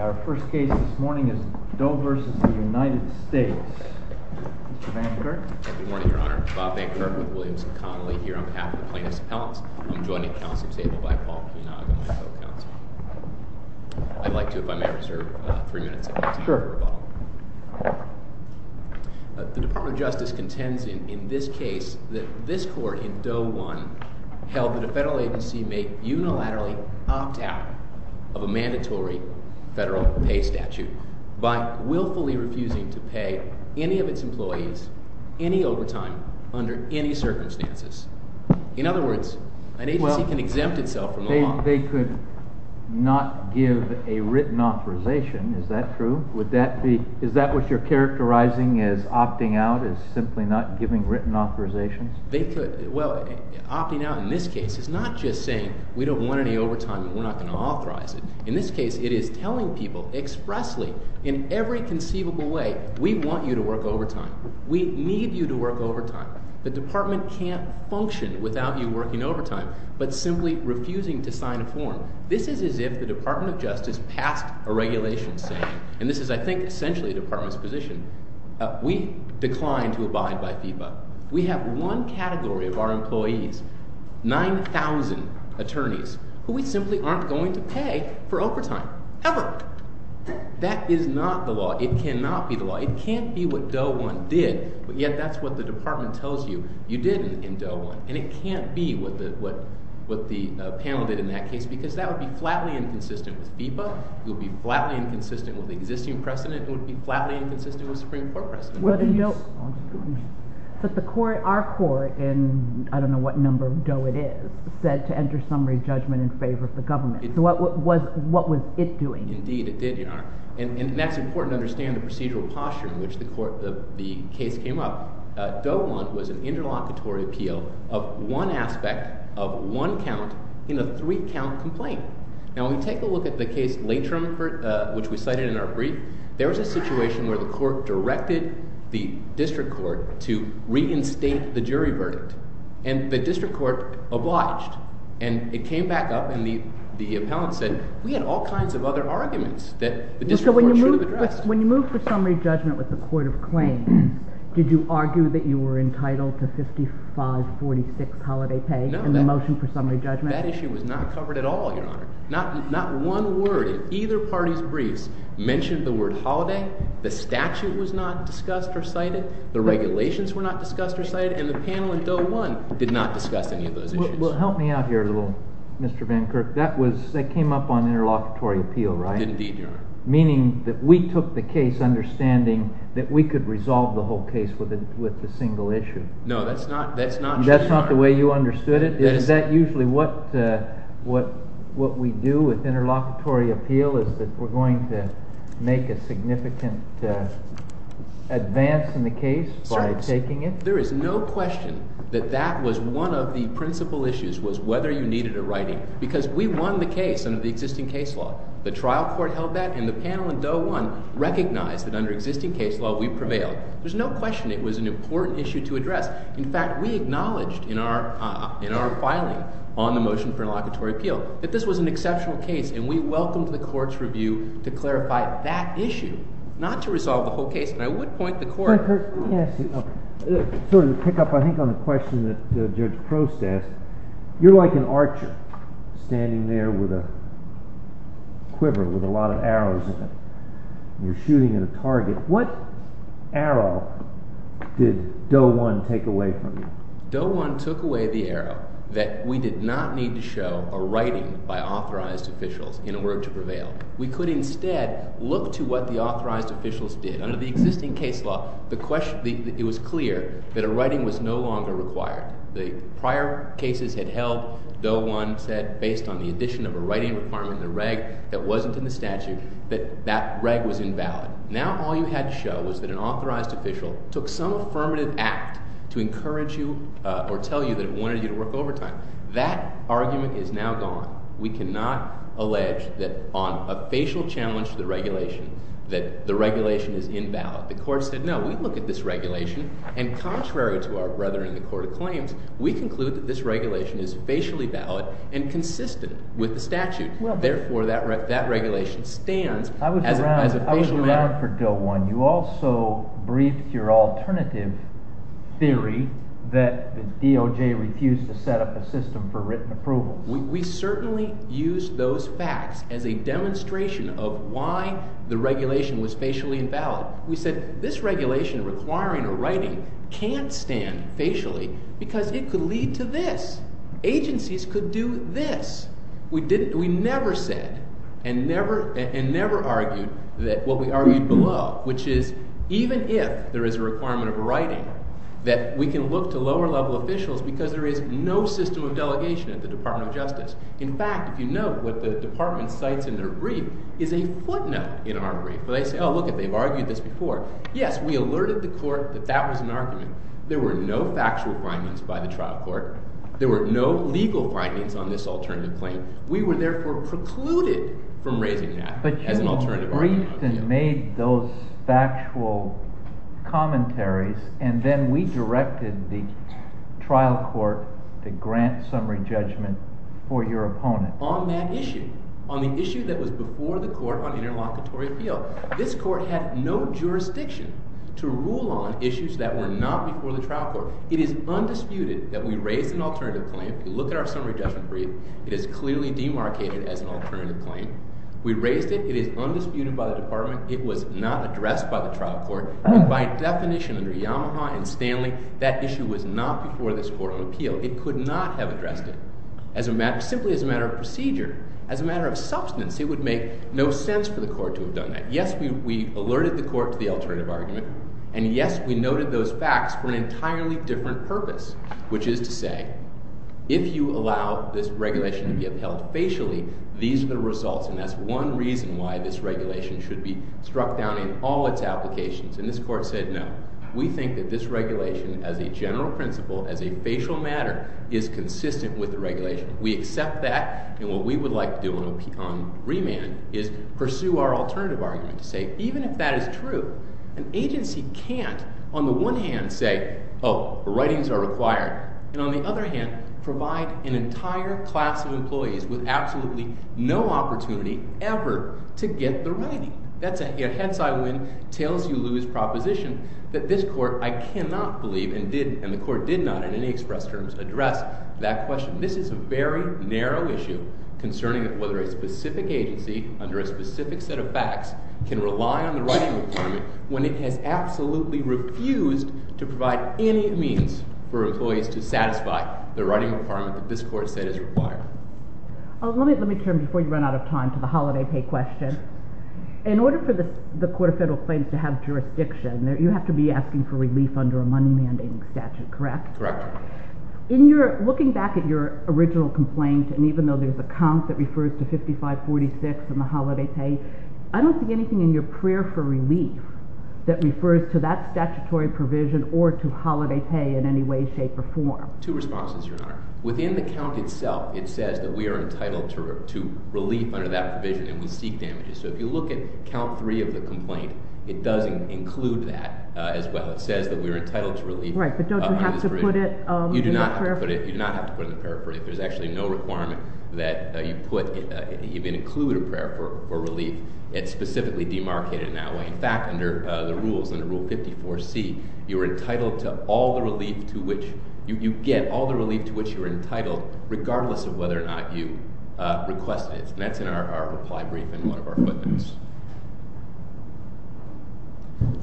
Our first case this morning is Doe v. United States, Mr. Vankirk. Good morning, Your Honor. Bob Vankirk with Williamson Connolly here on behalf of the Plaintiffs' Appellants. I'm joined at the counsel table by Paul Kunag, my co-counsel. I'd like to, if I may, reserve three minutes of counsel time for rebuttal. The Department of Justice contends in this case that this court in Doe v. United States held that a federal agency may unilaterally opt out of a mandatory federal pay statute by willfully refusing to pay any of its employees any overtime under any circumstances. In other words, an agency can exempt itself from the law. If they could not give a written authorization, is that true? Is that what you're characterizing as opting out, as simply not giving written authorizations? Well, opting out in this case is not just saying we don't want any overtime and we're not going to authorize it. In this case, it is telling people expressly, in every conceivable way, we want you to work overtime. We need you to work overtime. The department can't function without you working overtime, but simply refusing to sign a form. This is as if the Department of Justice passed a regulation saying, and this is, I think, essentially a department's position, we decline to abide by FIBA. We have one category of our employees, 9,000 attorneys, who we simply aren't going to pay for overtime ever. That is not the law. It cannot be the law. It can't be what DOE 1 did, but yet that's what the department tells you you did in DOE 1. And it can't be what the panel did in that case because that would be flatly inconsistent with FIBA. It would be flatly inconsistent with the existing precedent. It would be flatly inconsistent with Supreme Court precedent. But the court, our court, in I don't know what number of DOE it is, said to enter summary judgment in favor of the government. So what was it doing? Indeed, it did, Your Honor. And that's important to understand the procedural posture in which the case came up. DOE 1 was an interlocutory appeal of one aspect of one count in a three-count complaint. Now, when we take a look at the case Latrum, which we cited in our brief, there was a situation where the court directed the district court to reinstate the jury verdict. And the district court obliged. And it came back up, and the appellant said, we had all kinds of other arguments that the district court should have addressed. So when you moved for summary judgment with the court of claims, did you argue that you were entitled to 5546 holiday pay in the motion for summary judgment? No, that issue was not covered at all, Your Honor. Not one word in either party's briefs mentioned the word holiday. The statute was not discussed or cited. The regulations were not discussed or cited. And the panel in DOE 1 did not discuss any of those issues. Well, help me out here a little, Mr. Van Kirk. That came up on interlocutory appeal, right? Indeed, Your Honor. Meaning that we took the case understanding that we could resolve the whole case with a single issue. No, that's not true, Your Honor. That's not the way you understood it? Is that usually what we do with interlocutory appeal, is that we're going to make a significant advance in the case by taking it? There is no question that that was one of the principal issues, was whether you needed a writing. Because we won the case under the existing case law. The trial court held that, and the panel in DOE 1 recognized that under existing case law we prevailed. There's no question it was an important issue to address. In fact, we acknowledged in our filing on the motion for interlocutory appeal that this was an exceptional case. And we welcomed the court's review to clarify that issue, not to resolve the whole case. And I would point the court— Van Kirk, let me ask you, sort of to pick up, I think, on the question that Judge Prost asked. You're like an archer standing there with a quiver with a lot of arrows in it, and you're shooting at a target. What arrow did DOE 1 take away from you? DOE 1 took away the arrow that we did not need to show a writing by authorized officials in order to prevail. We could instead look to what the authorized officials did. Under the existing case law, it was clear that a writing was no longer required. The prior cases had held, DOE 1 said, based on the addition of a writing requirement, a reg that wasn't in the statute, that that reg was invalid. Now all you had to show was that an authorized official took some affirmative act to encourage you or tell you that it wanted you to work overtime. That argument is now gone. We cannot allege that on a facial challenge to the regulation that the regulation is invalid. The court said no. We look at this regulation, and contrary to our brethren in the Court of Claims, we conclude that this regulation is facially valid and consistent with the statute. Therefore, that regulation stands as a facial matter. I was around for DOE 1. You also briefed your alternative theory that the DOJ refused to set up a system for written approval. We certainly used those facts as a demonstration of why the regulation was facially invalid. We said this regulation requiring a writing can't stand facially because it could lead to this. Agencies could do this. We never said and never argued what we argued below, which is even if there is a requirement of writing, that we can look to lower-level officials because there is no system of delegation at the Department of Justice. In fact, if you note what the department cites in their brief, is a footnote in our brief. They say, oh, look it, they've argued this before. Yes, we alerted the court that that was an argument. There were no factual findings by the trial court. There were no legal findings on this alternative claim. We were, therefore, precluded from raising that as an alternative argument. But you briefed and made those factual commentaries, and then we directed the trial court to grant summary judgment for your opponent. On that issue, on the issue that was before the court on interlocutory appeal, this court had no jurisdiction to rule on issues that were not before the trial court. It is undisputed that we raised an alternative claim. If you look at our summary judgment brief, it is clearly demarcated as an alternative claim. We raised it. It is undisputed by the department. It was not addressed by the trial court. And by definition, under Yamaha and Stanley, that issue was not before this court on appeal. It could not have addressed it simply as a matter of procedure, as a matter of substance. It would make no sense for the court to have done that. Yes, we alerted the court to the alternative argument. And yes, we noted those facts for an entirely different purpose, which is to say, if you allow this regulation to be upheld facially, these are the results. And that's one reason why this regulation should be struck down in all its applications. And this court said no. We think that this regulation, as a general principle, as a facial matter, is consistent with the regulation. We accept that. And what we would like to do on remand is pursue our alternative argument to say, even if that is true, an agency can't, on the one hand, say, oh, writings are required. And on the other hand, provide an entire class of employees with absolutely no opportunity ever to get the writing. That's a hence I win, tails you lose proposition that this court, I cannot believe, and the court did not in any express terms address that question. This is a very narrow issue concerning whether a specific agency under a specific set of facts can rely on the writing requirement when it has absolutely refused to provide any means for employees to satisfy the writing requirement that this court has said is required. Let me turn, before you run out of time, to the holiday pay question. In order for the court of federal claims to have jurisdiction, you have to be asking for relief under a money mandating statute, correct? Correct. In your – looking back at your original complaint, and even though there's a comp that refers to 5546 and the holiday pay, I don't see anything in your prayer for relief that refers to that statutory provision or to holiday pay in any way, shape, or form. Two responses, Your Honor. Within the count itself, it says that we are entitled to relief under that provision, and we seek damages. So if you look at count three of the complaint, it does include that as well. It says that we are entitled to relief under this provision. Right, but don't you have to put it in the prayer for relief? You do not have to put it in the prayer for relief. There's actually no requirement that you put – even include a prayer for relief. It's specifically demarcated in that way. In fact, under the rules, under Rule 54C, you are entitled to all the relief to which – you get all the relief to which you are entitled regardless of whether or not you requested it. And that's in our reply brief in one of our footnotes.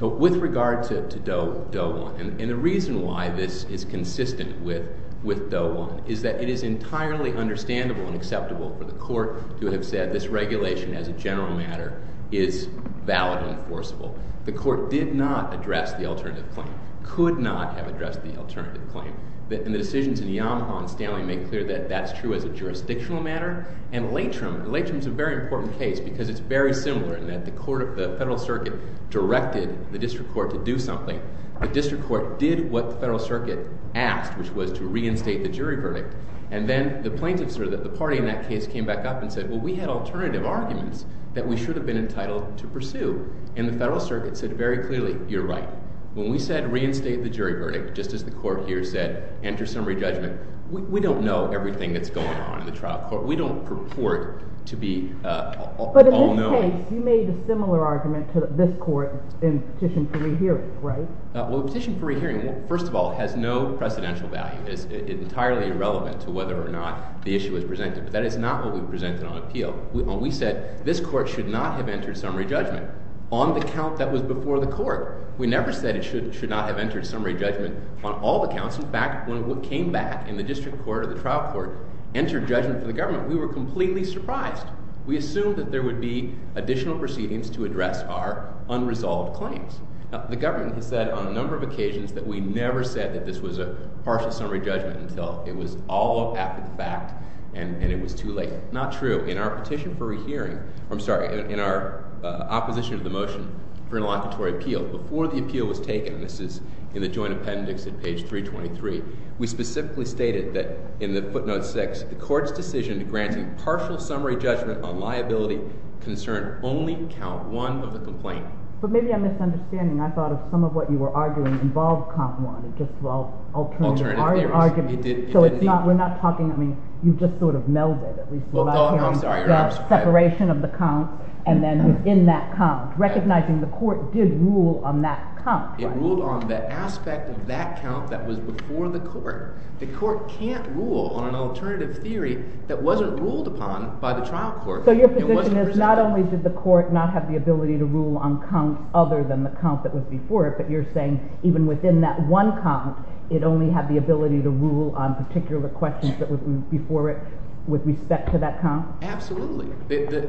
With regard to Doe 1, and the reason why this is consistent with Doe 1 is that it is entirely understandable and acceptable for the court to have said this regulation as a general matter is valid and enforceable. The court did not address the alternative claim, could not have addressed the alternative claim. And the decisions in Yamaha and Stanley make clear that that's true as a jurisdictional matter. And Latrim, Latrim is a very important case because it's very similar in that the federal circuit directed the district court to do something. The district court did what the federal circuit asked, which was to reinstate the jury verdict. And then the plaintiffs or the party in that case came back up and said, well, we had alternative arguments that we should have been entitled to pursue. And the federal circuit said very clearly, you're right. When we said reinstate the jury verdict, just as the court here said, enter summary judgment, we don't know everything that's going on in the trial court. We don't purport to be all-knowing. But in this case, you made a similar argument to this court in petition for rehearing, right? Well, the petition for rehearing, first of all, has no precedential value. It's entirely irrelevant to whether or not the issue was presented. But that is not what we presented on appeal. When we said this court should not have entered summary judgment on the count that was before the court. We never said it should not have entered summary judgment on all the counts. In fact, when it came back in the district court or the trial court, entered judgment for the government, we were completely surprised. We assumed that there would be additional proceedings to address our unresolved claims. Now, the government has said on a number of occasions that we never said that this was a partial summary judgment until it was all a fact and it was too late. Not true. In our petition for rehearing, I'm sorry, in our opposition to the motion for interlocutory appeal, before the appeal was taken, and this is in the joint appendix at page 323, we specifically stated that in the footnote 6, the court's decision to grant a partial summary judgment on liability concern only count 1 of the complaint. But maybe I'm misunderstanding. I thought if some of what you were arguing involved count 1, it's just for alternative arguments. So it's not – we're not talking – I mean, you've just sort of melded. Oh, I'm sorry. The separation of the count and then within that count, recognizing the court did rule on that count. It ruled on the aspect of that count that was before the court. The court can't rule on an alternative theory that wasn't ruled upon by the trial court. So your position is not only did the court not have the ability to rule on count other than the count that was before it, but you're saying even within that one count, it only had the ability to rule on particular questions that were before it with respect to that count? Absolutely.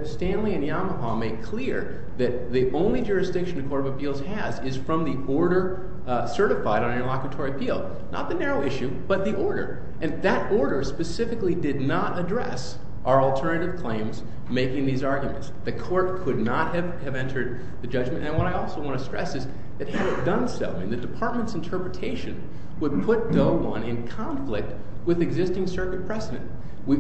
Stanley and Yamaha make clear that the only jurisdiction the Court of Appeals has is from the order certified on interlocutory appeal, not the narrow issue, but the order. And that order specifically did not address our alternative claims making these arguments. The court could not have entered the judgment. And what I also want to stress is that had it done so, I mean, the department's interpretation would put Doe 1 in conflict with existing circuit precedent. We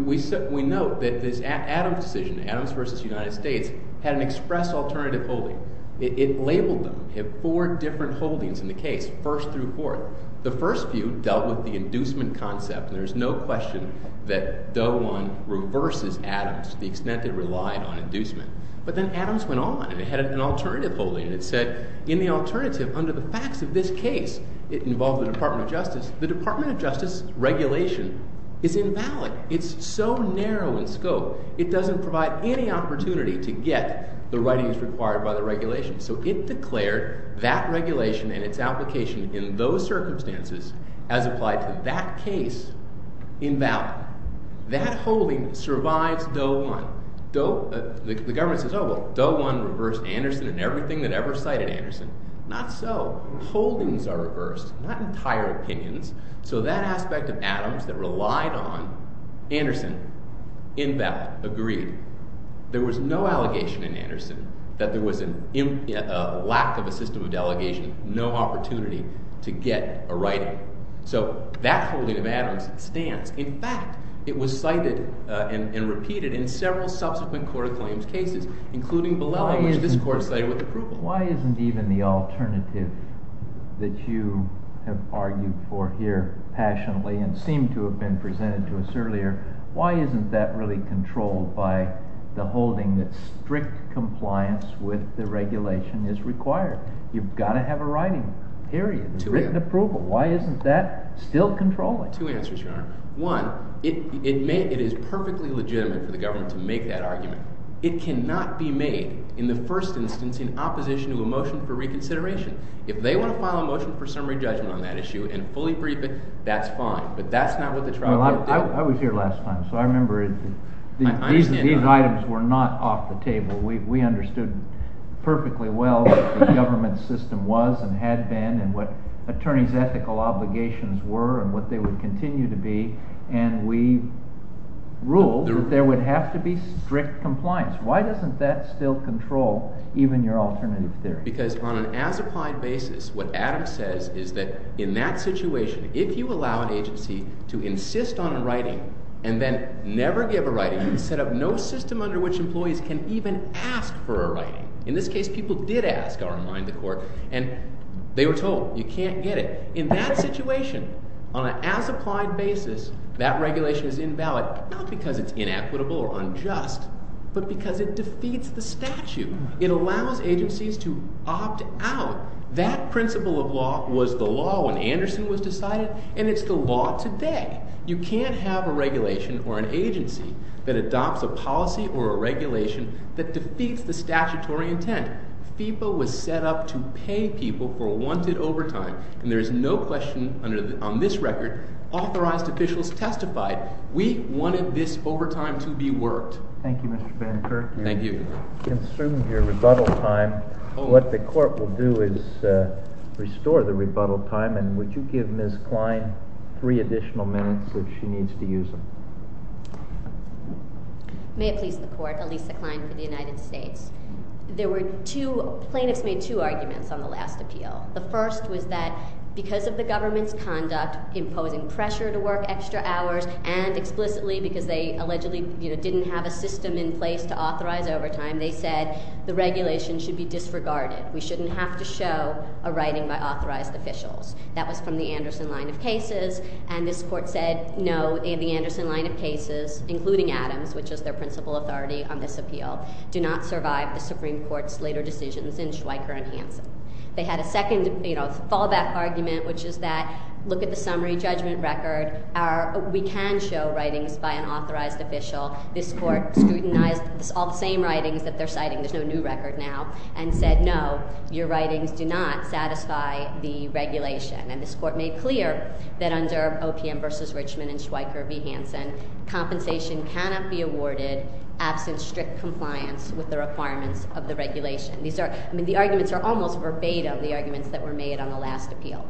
note that this Adams decision, Adams v. United States, had an express alternative holding. It labeled them. It had four different holdings in the case, first through fourth. The first few dealt with the inducement concept, and there's no question that Doe 1 reverses Adams to the extent it relied on inducement. But then Adams went on, and it had an alternative holding, and it said in the alternative, under the facts of this case, it involved the Department of Justice. The Department of Justice regulation is invalid. It's so narrow in scope, it doesn't provide any opportunity to get the writings required by the regulation. So it declared that regulation and its application in those circumstances as applied to that case invalid. That holding survives Doe 1. The government says, oh, well, Doe 1 reversed Anderson and everything that ever cited Anderson. Not so. Holdings are reversed, not entire opinions. So that aspect of Adams that relied on Anderson in that agreed. There was no allegation in Anderson that there was a lack of a system of delegation, no opportunity to get a writing. So that holding of Adams stands. In fact, it was cited and repeated in several subsequent court of claims cases, including Bilella, which this court cited with approval. Why isn't even the alternative that you have argued for here passionately and seem to have been presented to us earlier, why isn't that really controlled by the holding that strict compliance with the regulation is required? You've got to have a writing, period, a written approval. Why isn't that still controlling? I have two answers, Your Honor. One, it is perfectly legitimate for the government to make that argument. It cannot be made in the first instance in opposition to a motion for reconsideration. If they want to file a motion for summary judgment on that issue and fully brief it, that's fine. But that's not what the trial did. I was here last time, so I remember these items were not off the table. We understood perfectly well what the government system was and had been and what attorneys' ethical obligations were and what they would continue to be. And we ruled that there would have to be strict compliance. Why doesn't that still control even your alternative theory? Because on an as-applied basis, what Adam says is that in that situation, if you allow an agency to insist on a writing and then never give a writing, set up no system under which employees can even ask for a writing. In this case, people did ask, I'll remind the court, and they were told you can't get it. In that situation, on an as-applied basis, that regulation is invalid not because it's inequitable or unjust but because it defeats the statute. It allows agencies to opt out. That principle of law was the law when Anderson was decided, and it's the law today. You can't have a regulation or an agency that adopts a policy or a regulation that defeats the statutory intent. FEPA was set up to pay people for wanted overtime, and there is no question on this record authorized officials testified. We wanted this overtime to be worked. Thank you, Mr. Banneker. Thank you. You've consumed your rebuttal time. What the court will do is restore the rebuttal time, and would you give Ms. Klein three additional minutes if she needs to use them? May it please the court, Elisa Klein for the United States. There were two—plaintiffs made two arguments on the last appeal. The first was that because of the government's conduct, imposing pressure to work extra hours, and explicitly because they allegedly didn't have a system in place to authorize overtime, they said the regulation should be disregarded. We shouldn't have to show a writing by authorized officials. That was from the Anderson line of cases, and this court said no, the Anderson line of cases, including Adams, which is their principal authority on this appeal, do not survive the Supreme Court's later decisions in Schweiker and Hansen. They had a second fallback argument, which is that look at the summary judgment record. We can show writings by an authorized official. This court scrutinized all the same writings that they're citing—there's no new record now—and said no, your writings do not satisfy the regulation. And this court made clear that under OPM v. Richmond and Schweiker v. Hansen, compensation cannot be awarded absent strict compliance with the requirements of the regulation. I mean, the arguments are almost verbatim, the arguments that were made on the last appeal.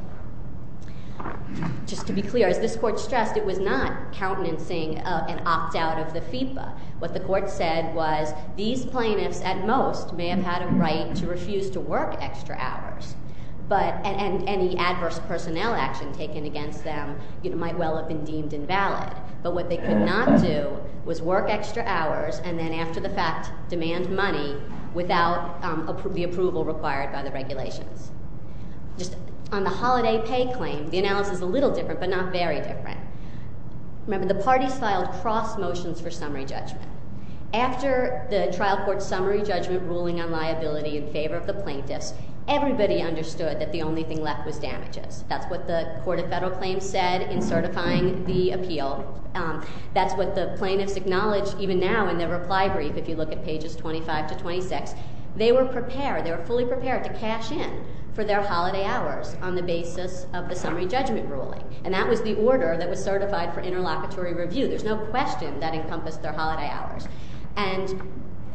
Just to be clear, as this court stressed, it was not countenancing an opt-out of the FIPA. What the court said was these plaintiffs at most may have had a right to refuse to work extra hours, and any adverse personnel action taken against them might well have been deemed invalid. But what they could not do was work extra hours and then, after the fact, demand money without the approval required by the regulations. Just on the holiday pay claim, the analysis is a little different, but not very different. Remember, the parties filed cross motions for summary judgment. After the trial court's summary judgment ruling on liability in favor of the plaintiffs, everybody understood that the only thing left was damages. That's what the Court of Federal Claims said in certifying the appeal. That's what the plaintiffs acknowledged even now in their reply brief, if you look at pages 25 to 26. They were prepared, they were fully prepared to cash in for their holiday hours on the basis of the summary judgment ruling. And that was the order that was certified for interlocutory review. There's no question that encompassed their holiday hours. And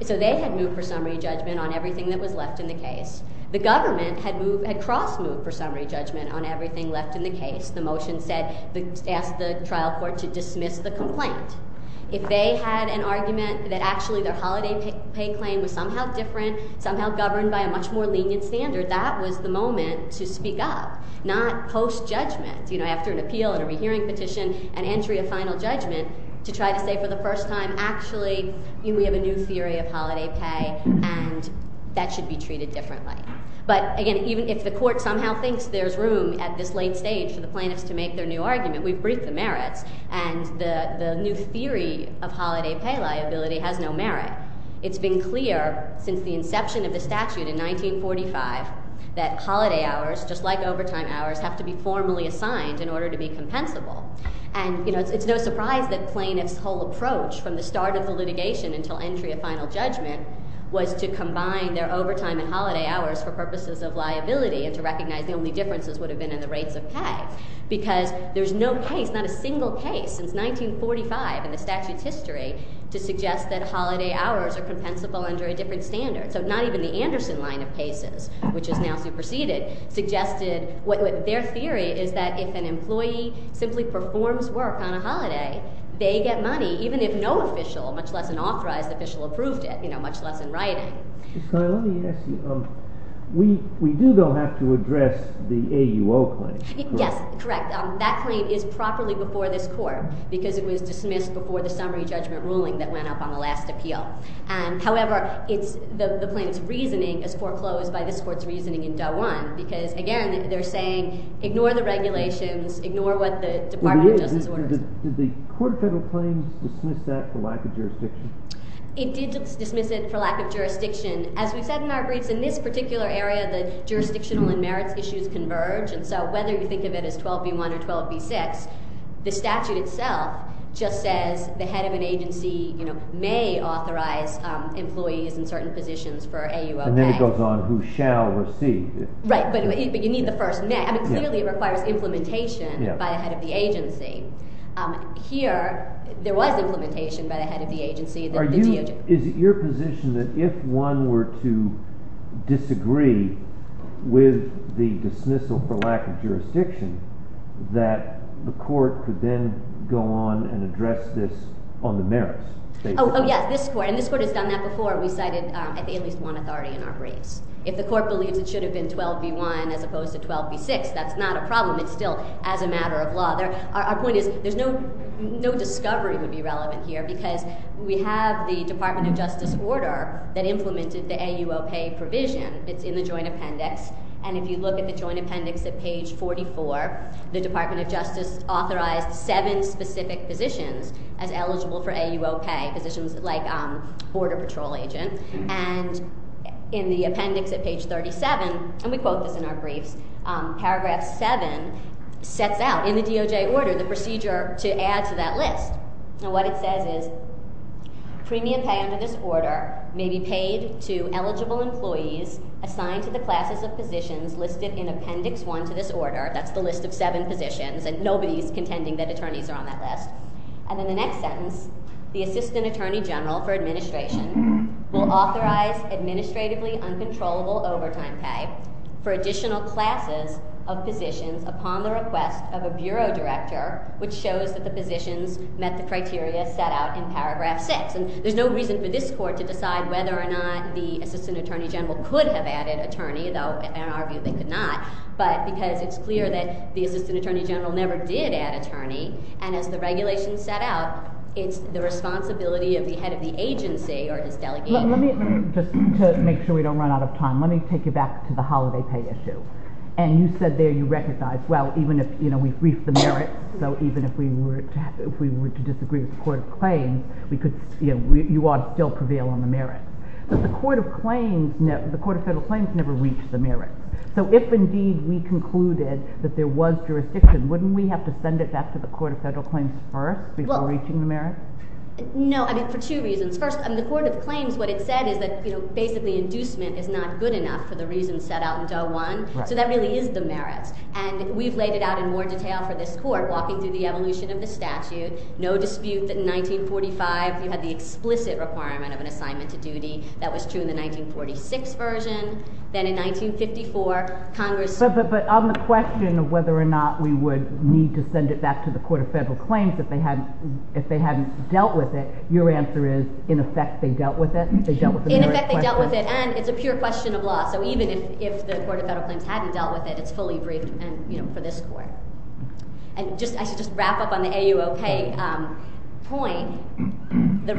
so they had moved for summary judgment on everything that was left in the case. The government had crossed moved for summary judgment on everything left in the case. The motion asked the trial court to dismiss the complaint. If they had an argument that actually their holiday pay claim was somehow different, somehow governed by a much more lenient standard, that was the moment to speak up, not post-judgment. You know, after an appeal and a rehearing petition and entry of final judgment, to try to say for the first time, actually, we have a new theory of holiday pay, and that should be treated differently. But again, even if the court somehow thinks there's room at this late stage for the plaintiffs to make their new argument, we've briefed the merits, and the new theory of holiday pay liability has no merit. It's been clear since the inception of the statute in 1945 that holiday hours, just like overtime hours, have to be formally assigned in order to be compensable. And, you know, it's no surprise that plaintiffs' whole approach from the start of the litigation until entry of final judgment was to combine their overtime and holiday hours for purposes of liability and to recognize the only differences would have been in the rates of pay. Because there's no case, not a single case, since 1945 in the statute's history to suggest that holiday hours are compensable under a different standard. So not even the Anderson line of cases, which is now superseded, suggested what their theory is that if an employee simply performs work on a holiday, they get money, even if no official, much less an authorized official, approved it, you know, much less in writing. Let me ask you, we do, though, have to address the AUO claim. Yes, correct. That claim is properly before this court because it was dismissed before the summary judgment ruling that went up on the last appeal. However, the plaintiff's reasoning is foreclosed by this court's reasoning in Doe 1. Because, again, they're saying, ignore the regulations, ignore what the Department of Justice orders. Did the court federal claim dismiss that for lack of jurisdiction? It did dismiss it for lack of jurisdiction. As we've said in our briefs, in this particular area, the jurisdictional and merits issues converge. And so whether you think of it as 12b1 or 12b6, the statute itself just says the head of an agency may authorize employees in certain positions for AUO claim. And then it goes on, who shall receive it. Right, but you need the first may. I mean, clearly it requires implementation by the head of the agency. Here, there was implementation by the head of the agency. Is it your position that if one were to disagree with the dismissal for lack of jurisdiction, that the court could then go on and address this on the merits? Oh, yes. This court has done that before. We cited at least one authority in our briefs. If the court believes it should have been 12b1 as opposed to 12b6, that's not a problem. It's still as a matter of law. Our point is there's no discovery would be relevant here because we have the Department of Justice order that implemented the AUO pay provision. It's in the joint appendix. And if you look at the joint appendix at page 44, the Department of Justice authorized seven specific positions as eligible for AUO pay, positions like border patrol agent. And in the appendix at page 37, and we quote this in our briefs, paragraph 7 sets out in the DOJ order the procedure to add to that list. And what it says is premium pay under this order may be paid to eligible employees assigned to the classes of positions listed in appendix 1 to this order. That's the list of seven positions, and nobody's contending that attorneys are on that list. And in the next sentence, the assistant attorney general for administration will authorize administratively uncontrollable overtime pay for additional classes of positions upon the request of a bureau director, which shows that the positions met the criteria set out in paragraph 6. And there's no reason for this court to decide whether or not the assistant attorney general could have added attorney, though I argue they could not, but because it's clear that the assistant attorney general never did add attorney, and as the regulation set out, it's the responsibility of the head of the agency or his delegate. Let me, just to make sure we don't run out of time, let me take you back to the holiday pay issue. And you said there you recognized, well, even if, you know, we briefed the merits, so even if we were to disagree with the court of claims, we could, you know, you ought to still prevail on the merits. But the court of claims, the court of federal claims never reached the merits. So if indeed we concluded that there was jurisdiction, wouldn't we have to send it back to the court of federal claims first before reaching the merits? No, I mean, for two reasons. First, in the court of claims, what it said is that, you know, basically inducement is not good enough for the reasons set out in Doe 1. So that really is the merits. And we've laid it out in more detail for this court, walking through the evolution of the statute. No dispute that in 1945, you had the explicit requirement of an assignment to duty. That was true in the 1946 version. Then in 1954, Congress— But on the question of whether or not we would need to send it back to the court of federal claims if they hadn't dealt with it, your answer is, in effect, they dealt with it? In effect, they dealt with it, and it's a pure question of law. So even if the court of federal claims hadn't dealt with it, it's fully briefed for this court. And I should just wrap up on the AUO pay point. The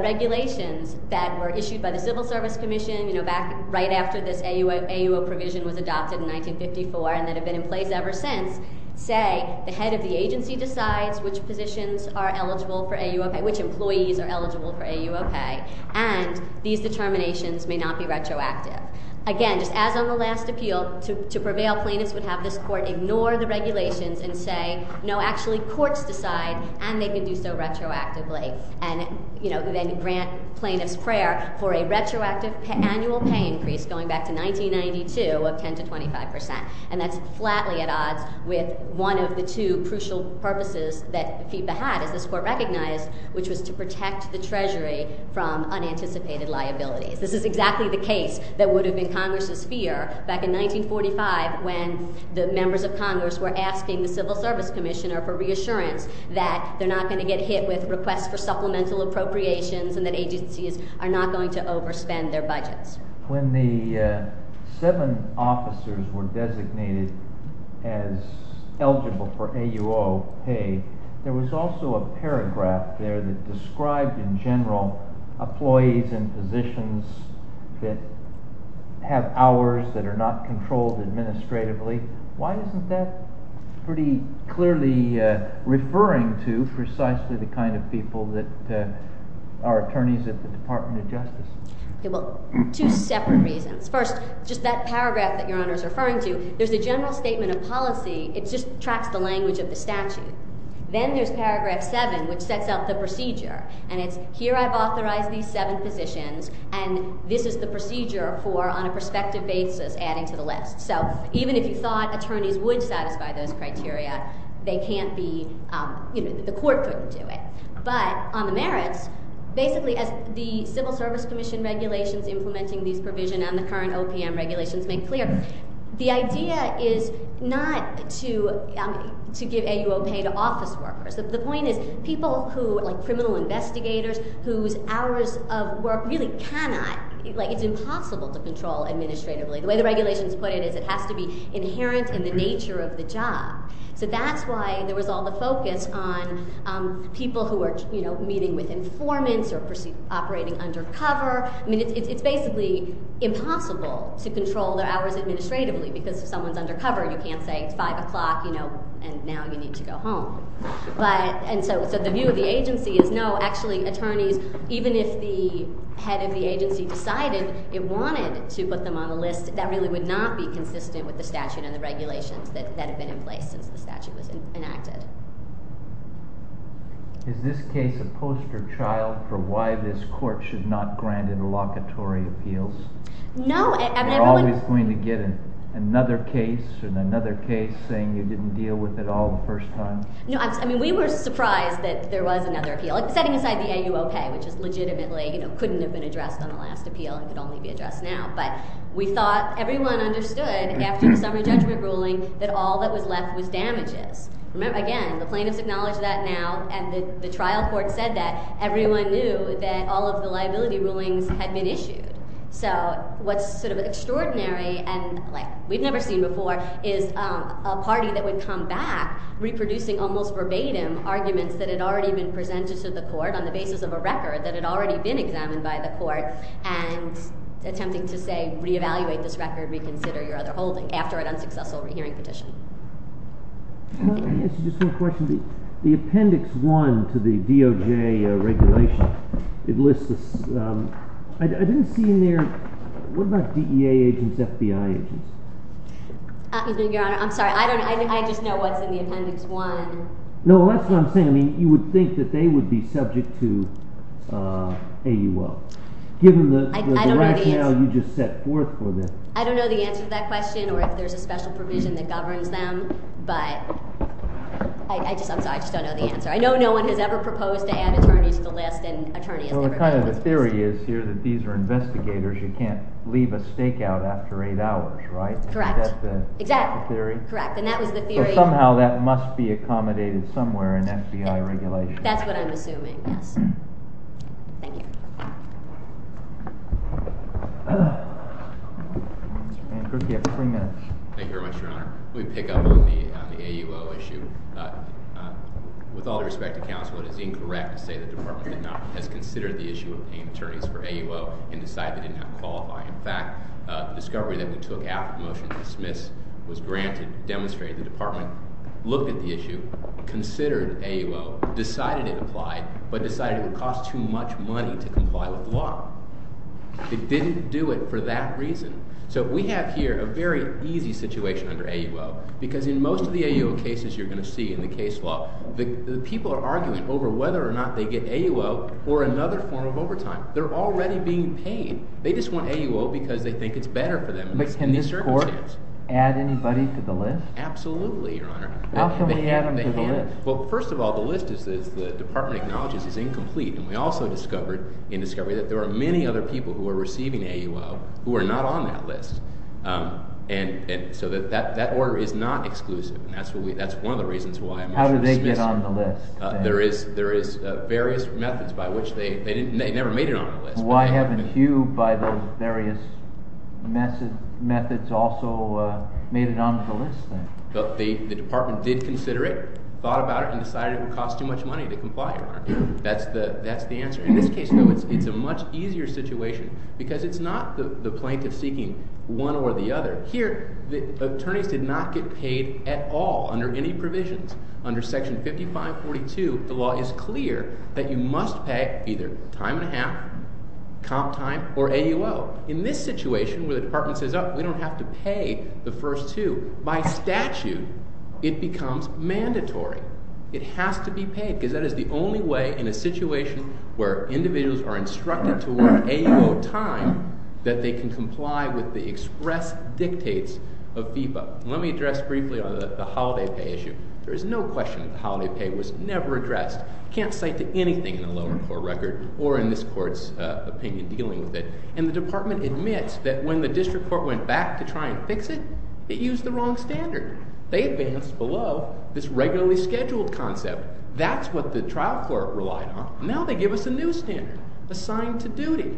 regulations that were issued by the Civil Service Commission, you know, back right after this AUO provision was adopted in 1954 and that have been in place ever since, say the head of the agency decides which positions are eligible for AUO pay, which employees are eligible for AUO pay. And these determinations may not be retroactive. Again, just as on the last appeal, to prevail, plaintiffs would have this court ignore the regulations and say, no, actually, courts decide, and they can do so retroactively. And, you know, then grant plaintiffs' prayer for a retroactive annual pay increase going back to 1992 of 10 to 25%. And that's flatly at odds with one of the two crucial purposes that FEPA had, as this court recognized, which was to protect the Treasury from unanticipated liabilities. This is exactly the case that would have been Congress's fear back in 1945 when the members of Congress were asking the Civil Service Commissioner for reassurance that they're not going to get hit with requests for supplemental appropriations and that agencies are not going to overspend their budgets. When the seven officers were designated as eligible for AUO pay, there was also a paragraph there that described in general employees in positions that have hours that are not controlled administratively. Why isn't that pretty clearly referring to precisely the kind of people that are attorneys at the Department of Justice? Well, two separate reasons. First, just that paragraph that Your Honor is referring to, there's a general statement of policy. It just tracks the language of the statute. Then there's paragraph seven, which sets out the procedure. And it's, here I've authorized these seven positions, and this is the procedure for, on a prospective basis, adding to the list. So even if you thought attorneys would satisfy those criteria, they can't be, you know, the court couldn't do it. But on the merits, basically as the Civil Service Commission regulations implementing these provisions and the current OPM regulations make clear, the idea is not to give AUO pay to office workers. The point is people who, like criminal investigators whose hours of work really cannot, like it's impossible to control administratively. The way the regulations put it is it has to be inherent in the nature of the job. So that's why there was all the focus on people who are, you know, meeting with informants or operating undercover. I mean, it's basically impossible to control their hours administratively because if someone's undercover, you can't say it's 5 o'clock, you know, and now you need to go home. But, and so the view of the agency is no, actually attorneys, even if the head of the agency decided it wanted to put them on a list, that really would not be consistent with the statute and the regulations that have been in place since the statute was enacted. Is this case a poster child for why this court should not grant interlocutory appeals? No. You're always going to get another case and another case saying you didn't deal with it all the first time? No, I mean, we were surprised that there was another appeal. Setting aside the AUO pay, which is legitimately, you know, couldn't have been addressed on the last appeal and could only be addressed now. But we thought everyone understood after the summary judgment ruling that all that was left was damages. Remember, again, the plaintiffs acknowledge that now and the trial court said that. Everyone knew that all of the liability rulings had been issued. So what's sort of extraordinary and like we've never seen before is a party that would come back reproducing almost verbatim arguments that had already been presented to the court on the basis of a record that had already been examined by the court and attempting to say re-evaluate this record, reconsider your other holding after an unsuccessful hearing petition. Let me ask you just one question. The Appendix 1 to the DOJ regulation, it lists this. I didn't see in there, what about DEA agents, FBI agents? Your Honor, I'm sorry. I just know what's in the Appendix 1. No, that's what I'm saying. I mean, you would think that they would be subject to AUO. Given the rationale you just set forth for this. I don't know the answer to that question or if there's a special provision that governs them. But, I'm sorry, I just don't know the answer. I know no one has ever proposed to add attorneys to the list. Well, the kind of theory is here that these are investigators. You can't leave a stakeout after eight hours, right? Correct. Is that the theory? Correct. And that was the theory. But somehow that must be accommodated somewhere in FBI regulation. That's what I'm assuming, yes. Thank you. Thank you very much, Your Honor. Let me pick up on the AUO issue. With all due respect to counsel, it is incorrect to say the Department has considered the issue of paying attorneys for AUO and decided it did not qualify. In fact, the discovery that we took after the motion was dismissed was granted, demonstrated. The Department looked at the issue, considered AUO, decided it applied, but decided it would cost too much money to comply with law. It didn't do it for that reason. So we have here a very easy situation under AUO because in most of the AUO cases you're going to see in the case law, people are arguing over whether or not they get AUO or another form of overtime. They're already being paid. They just want AUO because they think it's better for them in these circumstances. But can this court add anybody to the list? Absolutely, Your Honor. How can we add them to the list? Well, first of all, the list, as the Department acknowledges, is incomplete. And we also discovered in discovery that there are many other people who are receiving AUO who are not on that list. And so that order is not exclusive, and that's one of the reasons why it must be dismissed. How do they get on the list? There is various methods by which they never made it on the list. Why haven't you, by those various methods, also made it onto the list then? The Department did consider it, thought about it, and decided it would cost too much money to comply, Your Honor. That's the answer. In this case, though, it's a much easier situation because it's not the plaintiff seeking one or the other. Here, the attorneys did not get paid at all under any provisions. Under Section 5542, the law is clear that you must pay either time and a half, comp time, or AUO. In this situation where the Department says, oh, we don't have to pay the first two, by statute it becomes mandatory. It has to be paid because that is the only way in a situation where individuals are instructed to award AUO time that they can comply with the express dictates of FEPA. Let me address briefly on the holiday pay issue. There is no question that the holiday pay was never addressed. You can't cite to anything in the lower court record or in this court's opinion dealing with it. And the Department admits that when the district court went back to try and fix it, it used the wrong standard. They advanced below this regularly scheduled concept. That's what the trial court relied on. Now they give us a new standard, assigned to duty.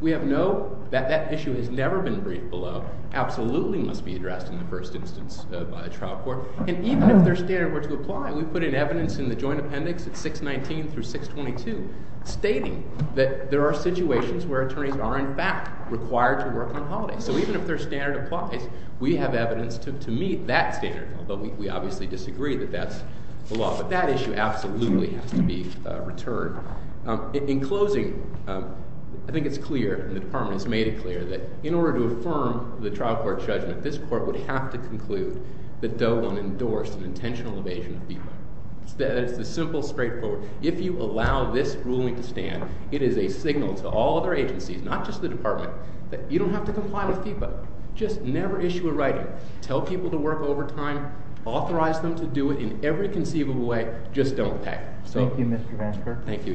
We have no—that issue has never been briefed below. Absolutely must be addressed in the first instance by the trial court. And even if their standard were to apply, we put in evidence in the joint appendix at 619 through 622 stating that there are situations where attorneys are, in fact, required to work on holidays. So even if their standard applies, we have evidence to meet that standard, although we obviously disagree that that's the law. But that issue absolutely has to be returned. In closing, I think it's clear, and the Department has made it clear, that in order to affirm the trial court judgment, this court would have to conclude that Doe 1 endorsed an intentional evasion of FEPA. That is the simple, straightforward—if you allow this ruling to stand, it is a signal to all other agencies, not just the Department, that you don't have to comply with FEPA. Just never issue a writing. Tell people to work overtime. Authorize them to do it in every conceivable way. Just don't pay. Thank you, Mr. Vansker. Thank you, Your Honor.